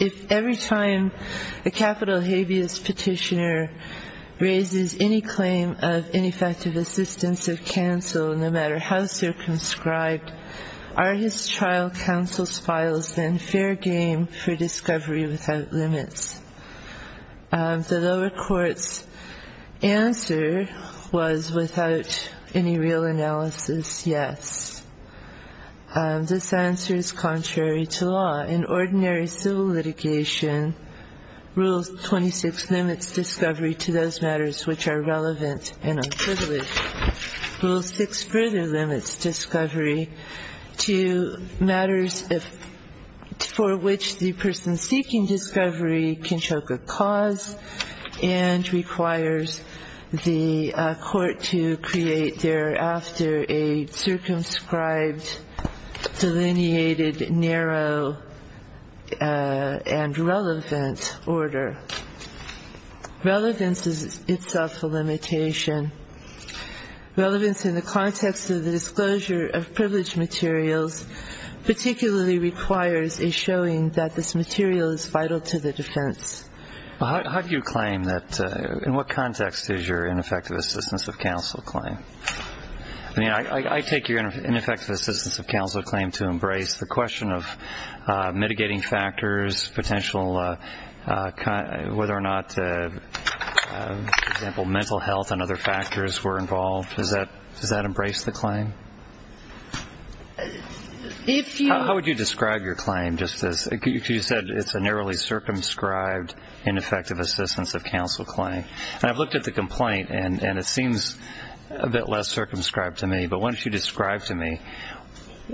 If every time a capital habeas petitioner raises any claim of ineffective assistance of counsel, no matter how circumscribed, are his trial counsel's files then fair game for discovery without limits? The lower court's answer was without any real analysis, yes. This answer is contrary to law. In ordinary civil litigation, Rule 26 limits discovery to those matters which are relevant and unprivileged. Rule 26 further limits discovery to matters for which the person seeking discovery can choke a cause and requires the court to create thereafter a circumscribed, delineated, narrow, and relevant order. Relevance is itself a limitation. Relevance in the context of the disclosure of privileged materials particularly requires a showing that this material is vital to the defense. How do you claim that? In what context is your ineffective assistance of counsel claim? I take your ineffective assistance of counsel claim to embrace the question of mitigating factors, potential, whether or not, for example, mental health and other factors were involved. Does that embrace the claim? How would you describe your claim? You said it's a narrowly circumscribed, ineffective assistance of counsel claim. And I've looked at the complaint, and it seems a bit less circumscribed to me. But why don't you describe to me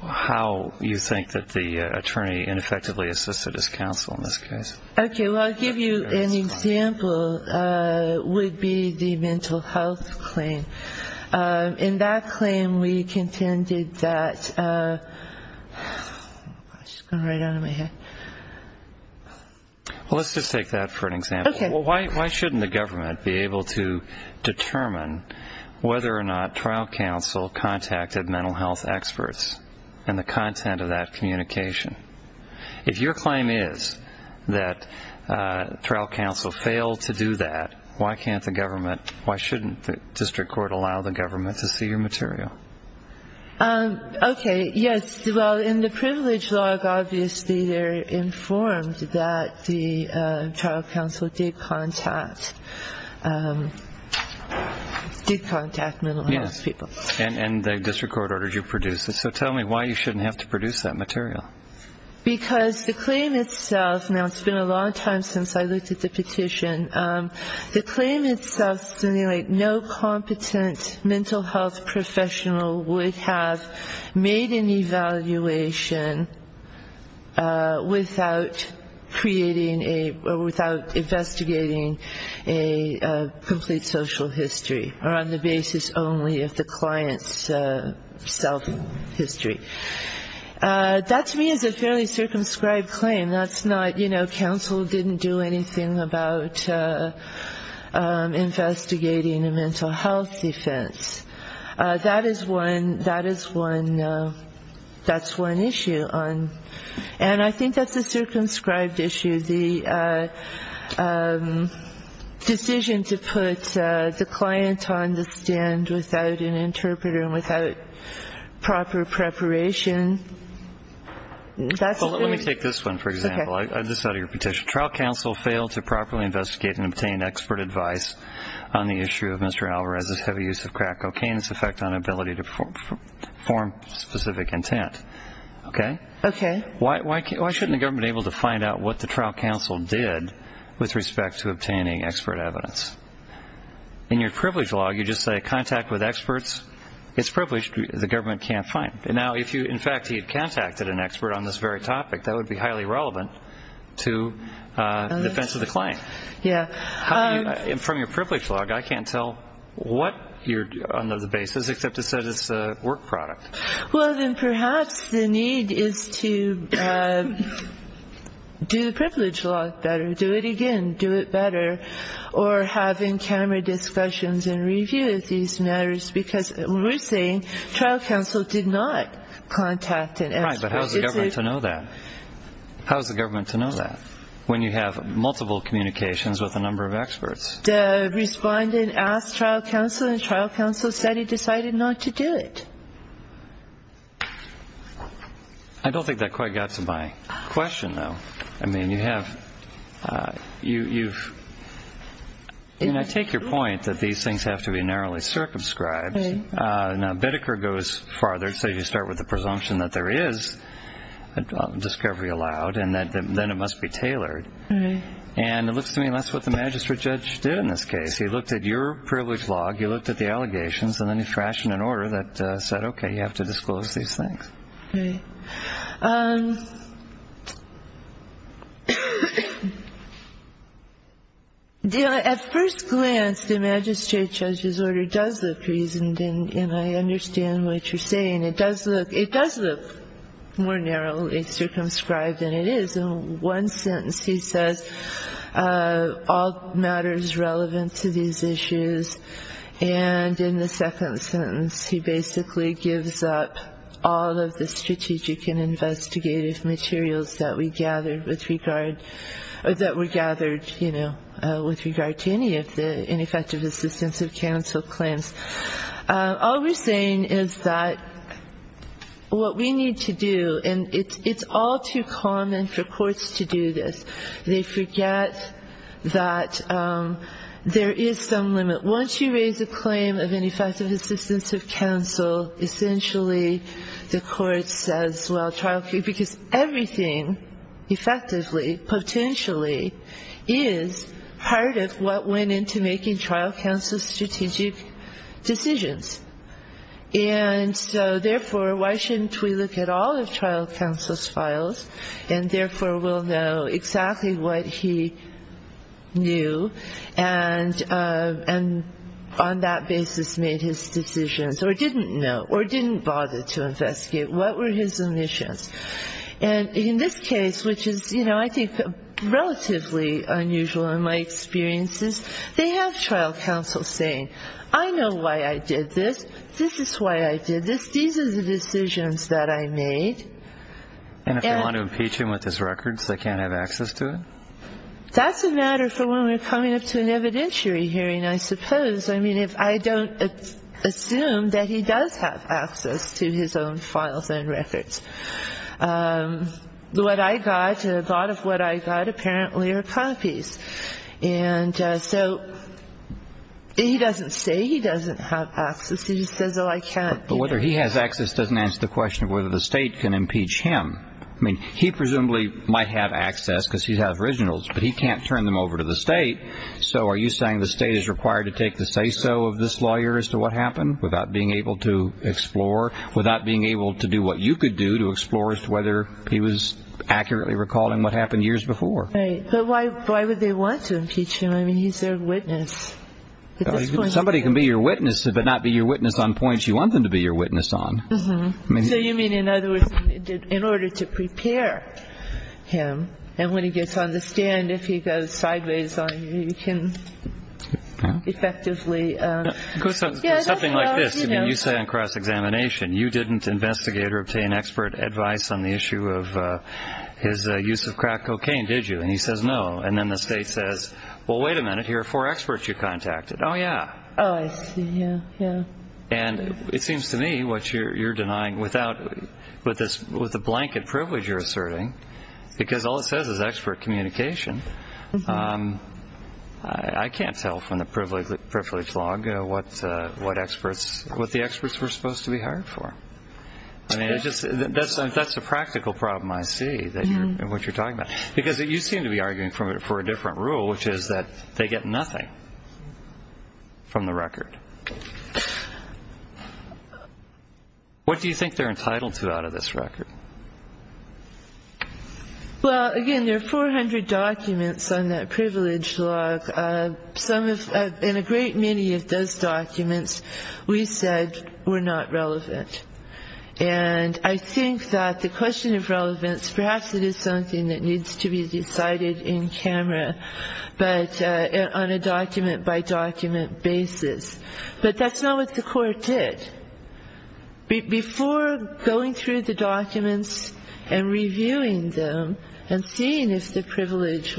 how you think that the attorney ineffectively assisted his counsel in this case? Okay. Well, I'll give you an example. It would be the mental health claim. In that claim, we contended that – I'm just going to write it out of my head. Well, let's just take that for an example. Okay. Well, why shouldn't the government be able to determine whether or not trial counsel contacted mental health experts and the content of that communication? If your claim is that trial counsel failed to do that, why can't the government – why shouldn't the district court allow the government to see your material? Okay. Yes. Well, in the privilege log, obviously, they're informed that the trial counsel did contact mental health people. Yes. And the district court ordered you to produce it. So tell me why you shouldn't have to produce that material. Because the claim itself – now, it's been a long time since I looked at the petition. The claim itself simulated no competent mental health professional would have made an evaluation without creating a – or without investigating a complete social history, or on the basis only of the client's self-history. That, to me, is a fairly circumscribed claim. That's not – you know, counsel didn't do anything about investigating a mental health offense. That is one – that is one – that's one issue on – and I think that's a circumscribed issue. The decision to put the client on the stand without an interpreter and without proper preparation, that's very – Well, let me take this one, for example. Okay. This is out of your petition. Trial counsel failed to properly investigate and obtain expert advice on the issue of Mr. Alvarez's heavy use of crack cocaine's effect on ability to perform specific intent. Okay? Okay. Why shouldn't the government be able to find out what the trial counsel did with respect to obtaining expert evidence? In your privilege log, you just say contact with experts. It's privileged. The government can't find it. Now, if you – in fact, he had contacted an expert on this very topic, that would be highly relevant to the defense of the claim. Yeah. How do you – from your privilege log, I can't tell what you're – on the basis, except it says it's a work product. Well, then perhaps the need is to do the privilege log better, do it again, do it better, or have in-camera discussions and review of these matters because we're saying trial counsel did not contact an expert. Right, but how is the government to know that? How is the government to know that when you have multiple communications with a number of experts? The respondent asked trial counsel, and trial counsel said he decided not to do it. I don't think that quite got to my question, though. I mean, you have – you've – I mean, I take your point that these things have to be narrowly circumscribed. Now, Bedeker goes farther. He says you start with the presumption that there is a discovery allowed and that then it must be tailored. And it looks to me that's what the magistrate judge did in this case. He looked at your privilege log, he looked at the allegations, and then he fashioned an order that said, okay, you have to disclose these things. Right. At first glance, the magistrate judge's order does look reasoned, and I understand what you're saying. It does look – it does look more narrowly circumscribed than it is. In one sentence, he says all matters relevant to these issues, and in the second sentence, he basically gives up all of the strategic and investigative materials that we gathered with regard – or that were gathered, you know, with regard to any of the ineffective assistance of counsel claims. All we're saying is that what we need to do – and it's all too common for courts to do this. They forget that there is some limit. Once you raise a claim of ineffective assistance of counsel, essentially the court says, well, trial – because everything effectively, potentially, is part of what went into making trial counsel's strategic decisions. And so, therefore, why shouldn't we look at all of trial counsel's files and therefore will know exactly what he knew and on that basis made his decisions, or didn't know, or didn't bother to investigate? What were his omissions? And in this case, which is, you know, I think relatively unusual in my experiences, they have trial counsel saying, I know why I did this. This is why I did this. These are the decisions that I made. And if they want to impeach him with his records, they can't have access to it? That's a matter for when we're coming up to an evidentiary hearing, I suppose. I mean, if I don't assume that he does have access to his own files and records. What I got, a lot of what I got apparently are copies. And so he doesn't say he doesn't have access. He just says, oh, I can't. But whether he has access doesn't answer the question of whether the state can impeach him. I mean, he presumably might have access because he has originals, but he can't turn them over to the state. So are you saying the state is required to take the say-so of this lawyer as to what happened without being able to explore, without being able to do what you could do to explore as to whether he was accurately recalling what happened years before? But why would they want to impeach him? I mean, he's their witness. Somebody can be your witness, but not be your witness on points you want them to be your witness on. So you mean, in other words, in order to prepare him. And when he gets on the stand, if he goes sideways on you, you can effectively. Something like this. I mean, you say on cross-examination, you didn't investigate or obtain expert advice on the issue of his use of crack cocaine, did you? And he says no. And then the state says, well, wait a minute, here are four experts you contacted. Oh, yeah. Oh, I see. Yeah, yeah. And it seems to me what you're denying, with the blanket privilege you're asserting, because all it says is expert communication, I can't tell from the privilege log what the experts were supposed to be hired for. I mean, that's a practical problem, I see, what you're talking about. Because you seem to be arguing for a different rule, which is that they get nothing from the record. What do you think they're entitled to out of this record? Well, again, there are 400 documents on that privilege log. In a great many of those documents, we said we're not relevant. And I think that the question of relevance, perhaps it is something that needs to be decided in camera, but on a document-by-document basis. But that's not what the court did. Before going through the documents and reviewing them and seeing if the privilege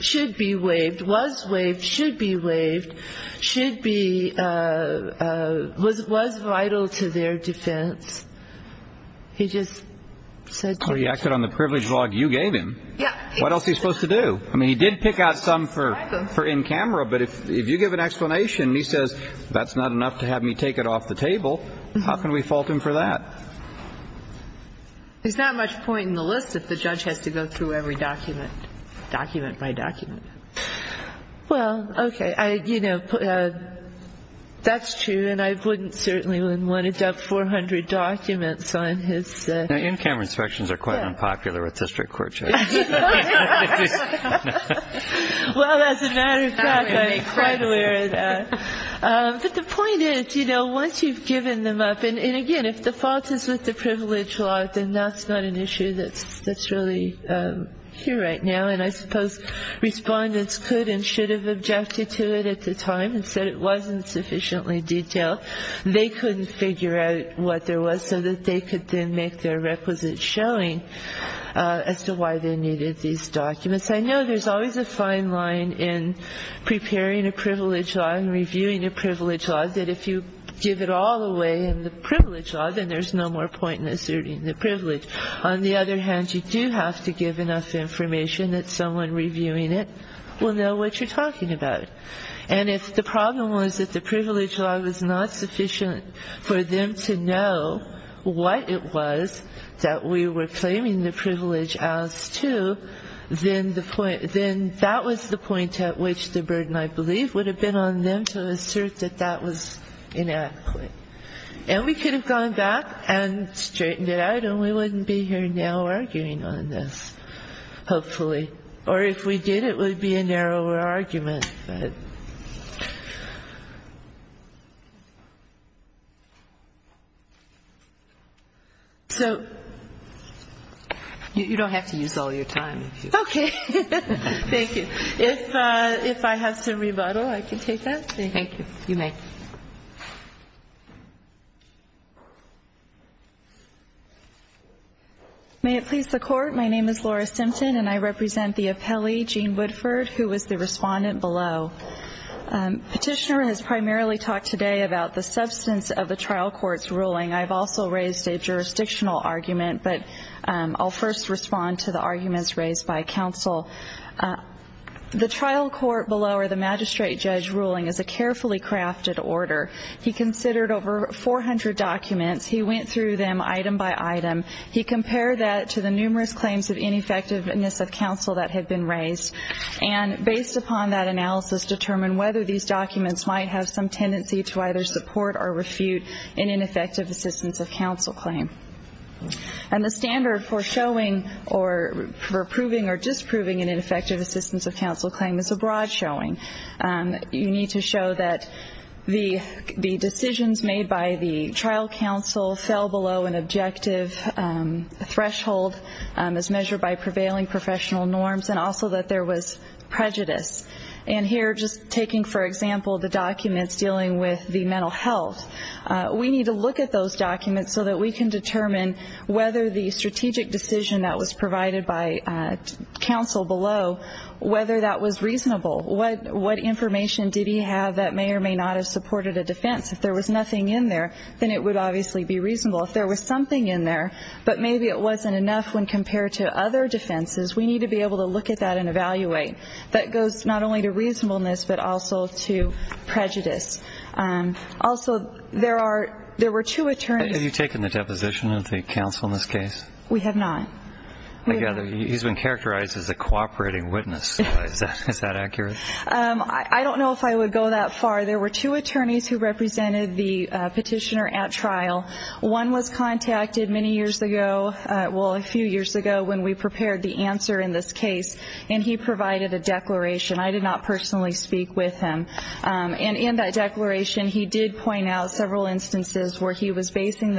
should be waived, was waived, should be waived, should be, was vital to their defense, he just said to it. Oh, he acted on the privilege log you gave him. Yeah. What else is he supposed to do? I mean, he did pick out some for in camera, but if you give an explanation, he says, that's not enough to have me take it off the table. How can we fault him for that? There's not much point in the list if the judge has to go through every document, document-by-document. Well, okay. You know, that's true, and I wouldn't certainly want to dump 400 documents on his. In camera inspections are quite unpopular with district court judges. Well, as a matter of fact, I'm quite aware of that. But the point is, you know, once you've given them up, and, again, if the fault is with the privilege log, then that's not an issue that's really here right now. And I suppose respondents could and should have objected to it at the time and said it wasn't sufficiently detailed. They couldn't figure out what there was so that they could then make their requisite showing as to why they needed these documents. I know there's always a fine line in preparing a privilege log and reviewing a privilege log that if you give it all away in the privilege log, then there's no more point in asserting the privilege. On the other hand, you do have to give enough information that someone reviewing it will know what you're talking about. And if the problem was that the privilege log was not sufficient for them to know what it was that we were claiming the privilege as to, then that was the point at which the burden, I believe, would have been on them to assert that that was inadequate. And we could have gone back and straightened it out, and we wouldn't be here now arguing on this, hopefully. Or if we did, it would be a narrower argument. But... So... You don't have to use all your time. Okay. Thank you. If I have some rebuttal, I can take that. Thank you. You may. May it please the Court. My name is Laura Simpson, and I represent the appellee, Gene Woodford, who was the respondent below. Petitioner has primarily talked today about the substance of the trial court's ruling. I've also raised a jurisdictional argument, but I'll first respond to the arguments raised by counsel. The trial court below, or the magistrate judge ruling, is a carefully crafted order. He considered over 400 documents. He went through them item by item. He compared that to the numerous claims of ineffectiveness of counsel that had been raised, and based upon that analysis, determined whether these documents might have some tendency to either support or refute an ineffective assistance of counsel claim. And the standard for showing or approving or disproving an ineffective assistance of counsel claim is a broad showing. You need to show that the decisions made by the trial counsel fell below an objective threshold as measured by prevailing professional norms, and also that there was prejudice. And here, just taking, for example, the documents dealing with the mental health, we need to look at those documents so that we can determine whether the strategic decision that was provided by counsel below, whether that was reasonable. What information did he have that may or may not have supported a defense? If there was nothing in there, then it would obviously be reasonable. If there was something in there, but maybe it wasn't enough when compared to other defenses, we need to be able to look at that and evaluate. That goes not only to reasonableness, but also to prejudice. Also, there were two attorneys. Have you taken the deposition of the counsel in this case? We have not. I gather he's been characterized as a cooperating witness. Is that accurate? I don't know if I would go that far. There were two attorneys who represented the petitioner at trial. One was contacted many years ago, well, a few years ago, when we prepared the answer in this case, and he provided a declaration. I did not personally speak with him. And in that declaration, he did point out several instances where he was basing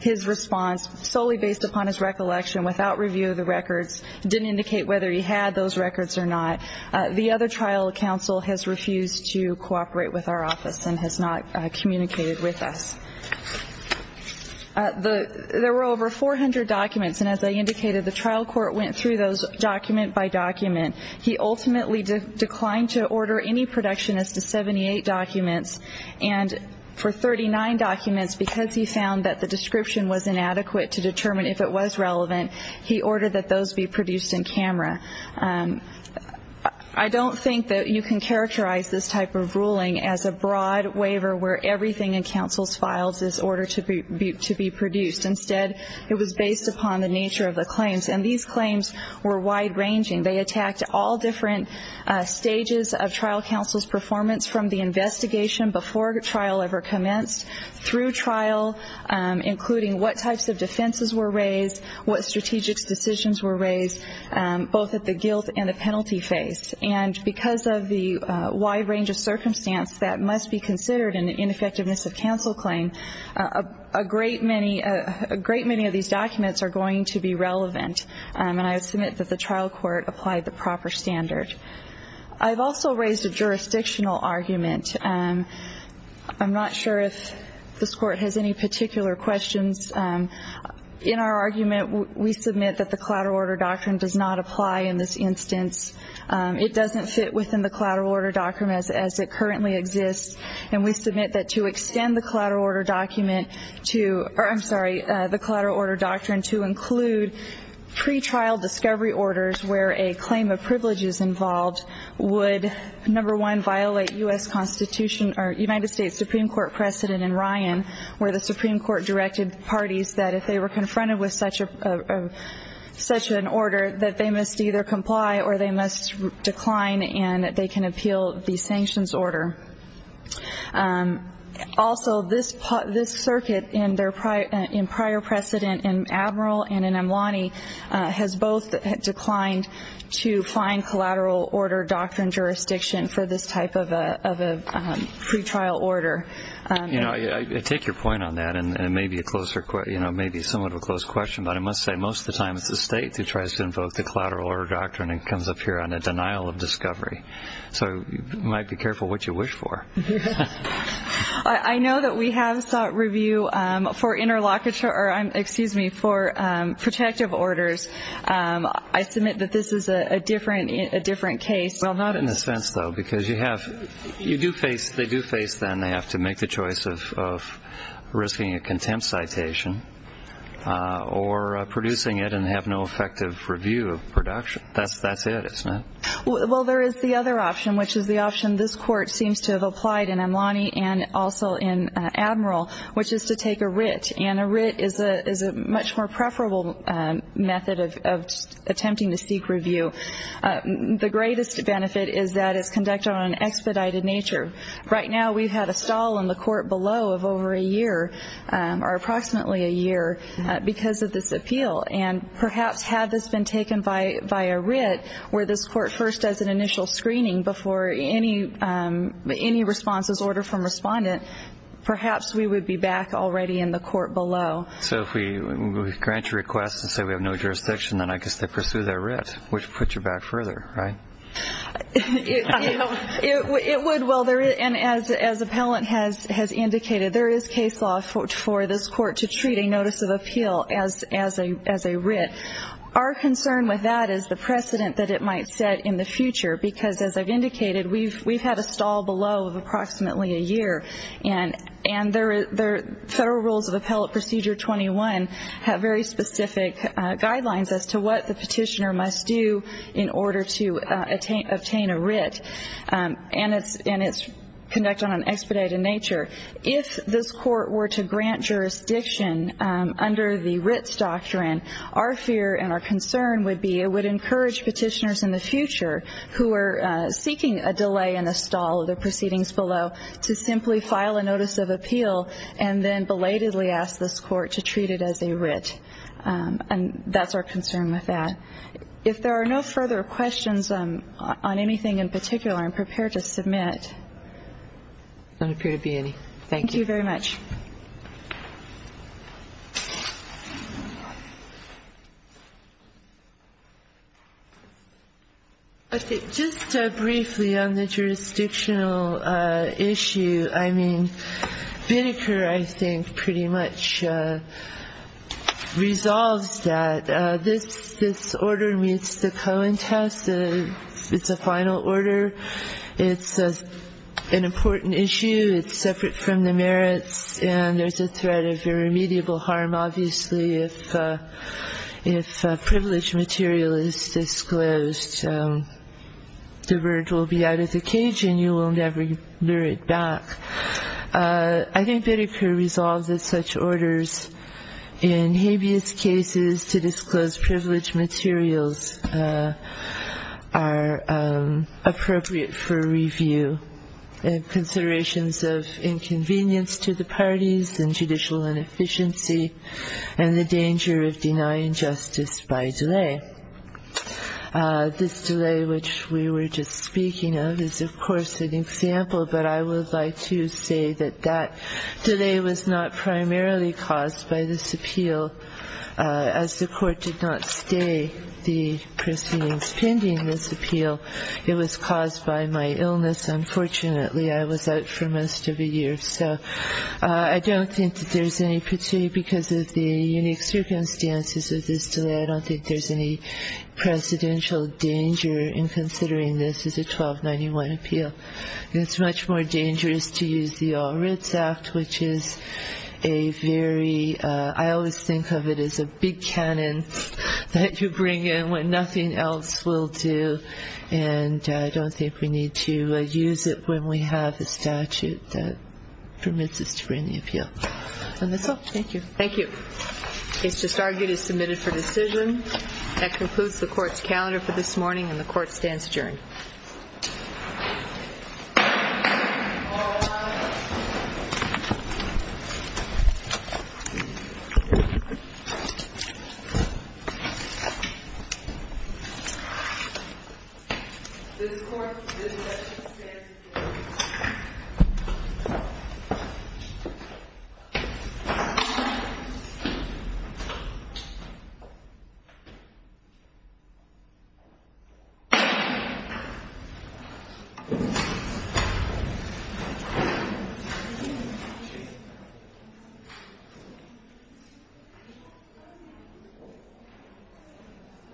his response solely based upon his recollection, without review of the records, didn't indicate whether he had those records or not. The other trial counsel has refused to cooperate with our office and has not communicated with us. There were over 400 documents, and as I indicated, the trial court went through those document by document. He ultimately declined to order any production as to 78 documents. And for 39 documents, because he found that the description was inadequate to determine if it was relevant, he ordered that those be produced in camera. I don't think that you can characterize this type of ruling as a broad waiver where everything in counsel's files is ordered to be produced. Instead, it was based upon the nature of the claims. And these claims were wide-ranging. They attacked all different stages of trial counsel's performance from the investigation before trial ever commenced, through trial, including what types of defenses were raised, what strategic decisions were raised, both at the guilt and the penalty phase. And because of the wide range of circumstance that must be considered in an ineffectiveness of counsel claim, a great many of these documents are going to be relevant. And I submit that the trial court applied the proper standard. I've also raised a jurisdictional argument. I'm not sure if this Court has any particular questions. In our argument, we submit that the Collateral Order Doctrine does not apply in this instance. It doesn't fit within the Collateral Order Doctrine as it currently exists. And we submit that to extend the Collateral Order Doctrine to include pretrial discovery orders where a claim of privilege is involved would, number one, violate U.S. Constitution or United States Supreme Court precedent in Ryan, where the Supreme Court directed parties that if they were confronted with such an order, that they must either comply or they must decline and they can appeal the sanctions order. Also, this circuit, in prior precedent in Admiral and in Amlani, has both declined to find Collateral Order Doctrine jurisdiction for this type of a pretrial order. I take your point on that, and it may be somewhat of a close question, but I must say most of the time it's the state who tries to invoke the Collateral Order Doctrine and comes up here on a denial of discovery. So you might be careful what you wish for. I know that we have sought review for protective orders. I submit that this is a different case. Well, not in the sense, though, because they do face, then, they have to make the choice of risking a contempt citation or producing it and have no effective review of production. That's it, isn't it? Well, there is the other option, which is the option this Court seems to have applied in Amlani and also in Admiral, which is to take a writ. And a writ is a much more preferable method of attempting to seek review. The greatest benefit is that it's conducted on an expedited nature. Right now we've had a stall in the court below of over a year, or approximately a year, because of this appeal. And perhaps had this been taken by a writ where this court first does an initial screening before any response is ordered from respondent, perhaps we would be back already in the court below. So if we grant your request and say we have no jurisdiction, then I guess they pursue their writ, which puts you back further, right? It would. Well, and as appellant has indicated, there is case law for this court to treat a notice of appeal as a writ. Our concern with that is the precedent that it might set in the future, because as I've indicated, we've had a stall below of approximately a year. And the Federal Rules of Appellate Procedure 21 have very specific guidelines as to what the petitioner must do in order to obtain a writ. And it's conducted on an expedited nature. If this court were to grant jurisdiction under the writs doctrine, our fear and our concern would be it would encourage petitioners in the future who are seeking a delay in a stall of the proceedings below to simply file a notice of appeal and then belatedly ask this court to treat it as a writ. And that's our concern with that. If there are no further questions on anything in particular, I'm prepared to submit. There don't appear to be any. Thank you very much. I think just briefly on the jurisdictional issue, I mean, Binniker, I think, pretty much resolves that. This order meets the Cohen test. It's a final order. It's an important issue. It's separate from the merits. And there's a threat of irremediable harm. Obviously, if privileged material is disclosed, the bird will be out of the cage and you will never lure it back. I think Binniker resolves that such orders in habeas cases to disclose privileged materials are appropriate for review and considerations of inconvenience to the parties and judicial inefficiency and the danger of denying justice by delay. This delay, which we were just speaking of, is, of course, an example, but I would like to say that that delay was not primarily caused by this appeal. As the court did not stay the proceedings pending this appeal, it was caused by my illness. Unfortunately, I was out for most of a year. So I don't think that there's any particular, because of the unique circumstances of this delay, I don't think there's any presidential danger in considering this as a 1291 appeal. It's much more dangerous to use the All Writs Act, which is a very, I always think of it as a big canon that you bring in when nothing else will do. And I don't think we need to use it when we have a statute that permits us to bring the appeal. And that's all. Thank you. Thank you. Case disargued is submitted for decision. That concludes the court's calendar for this morning, and the court stands adjourned. This court is adjourned.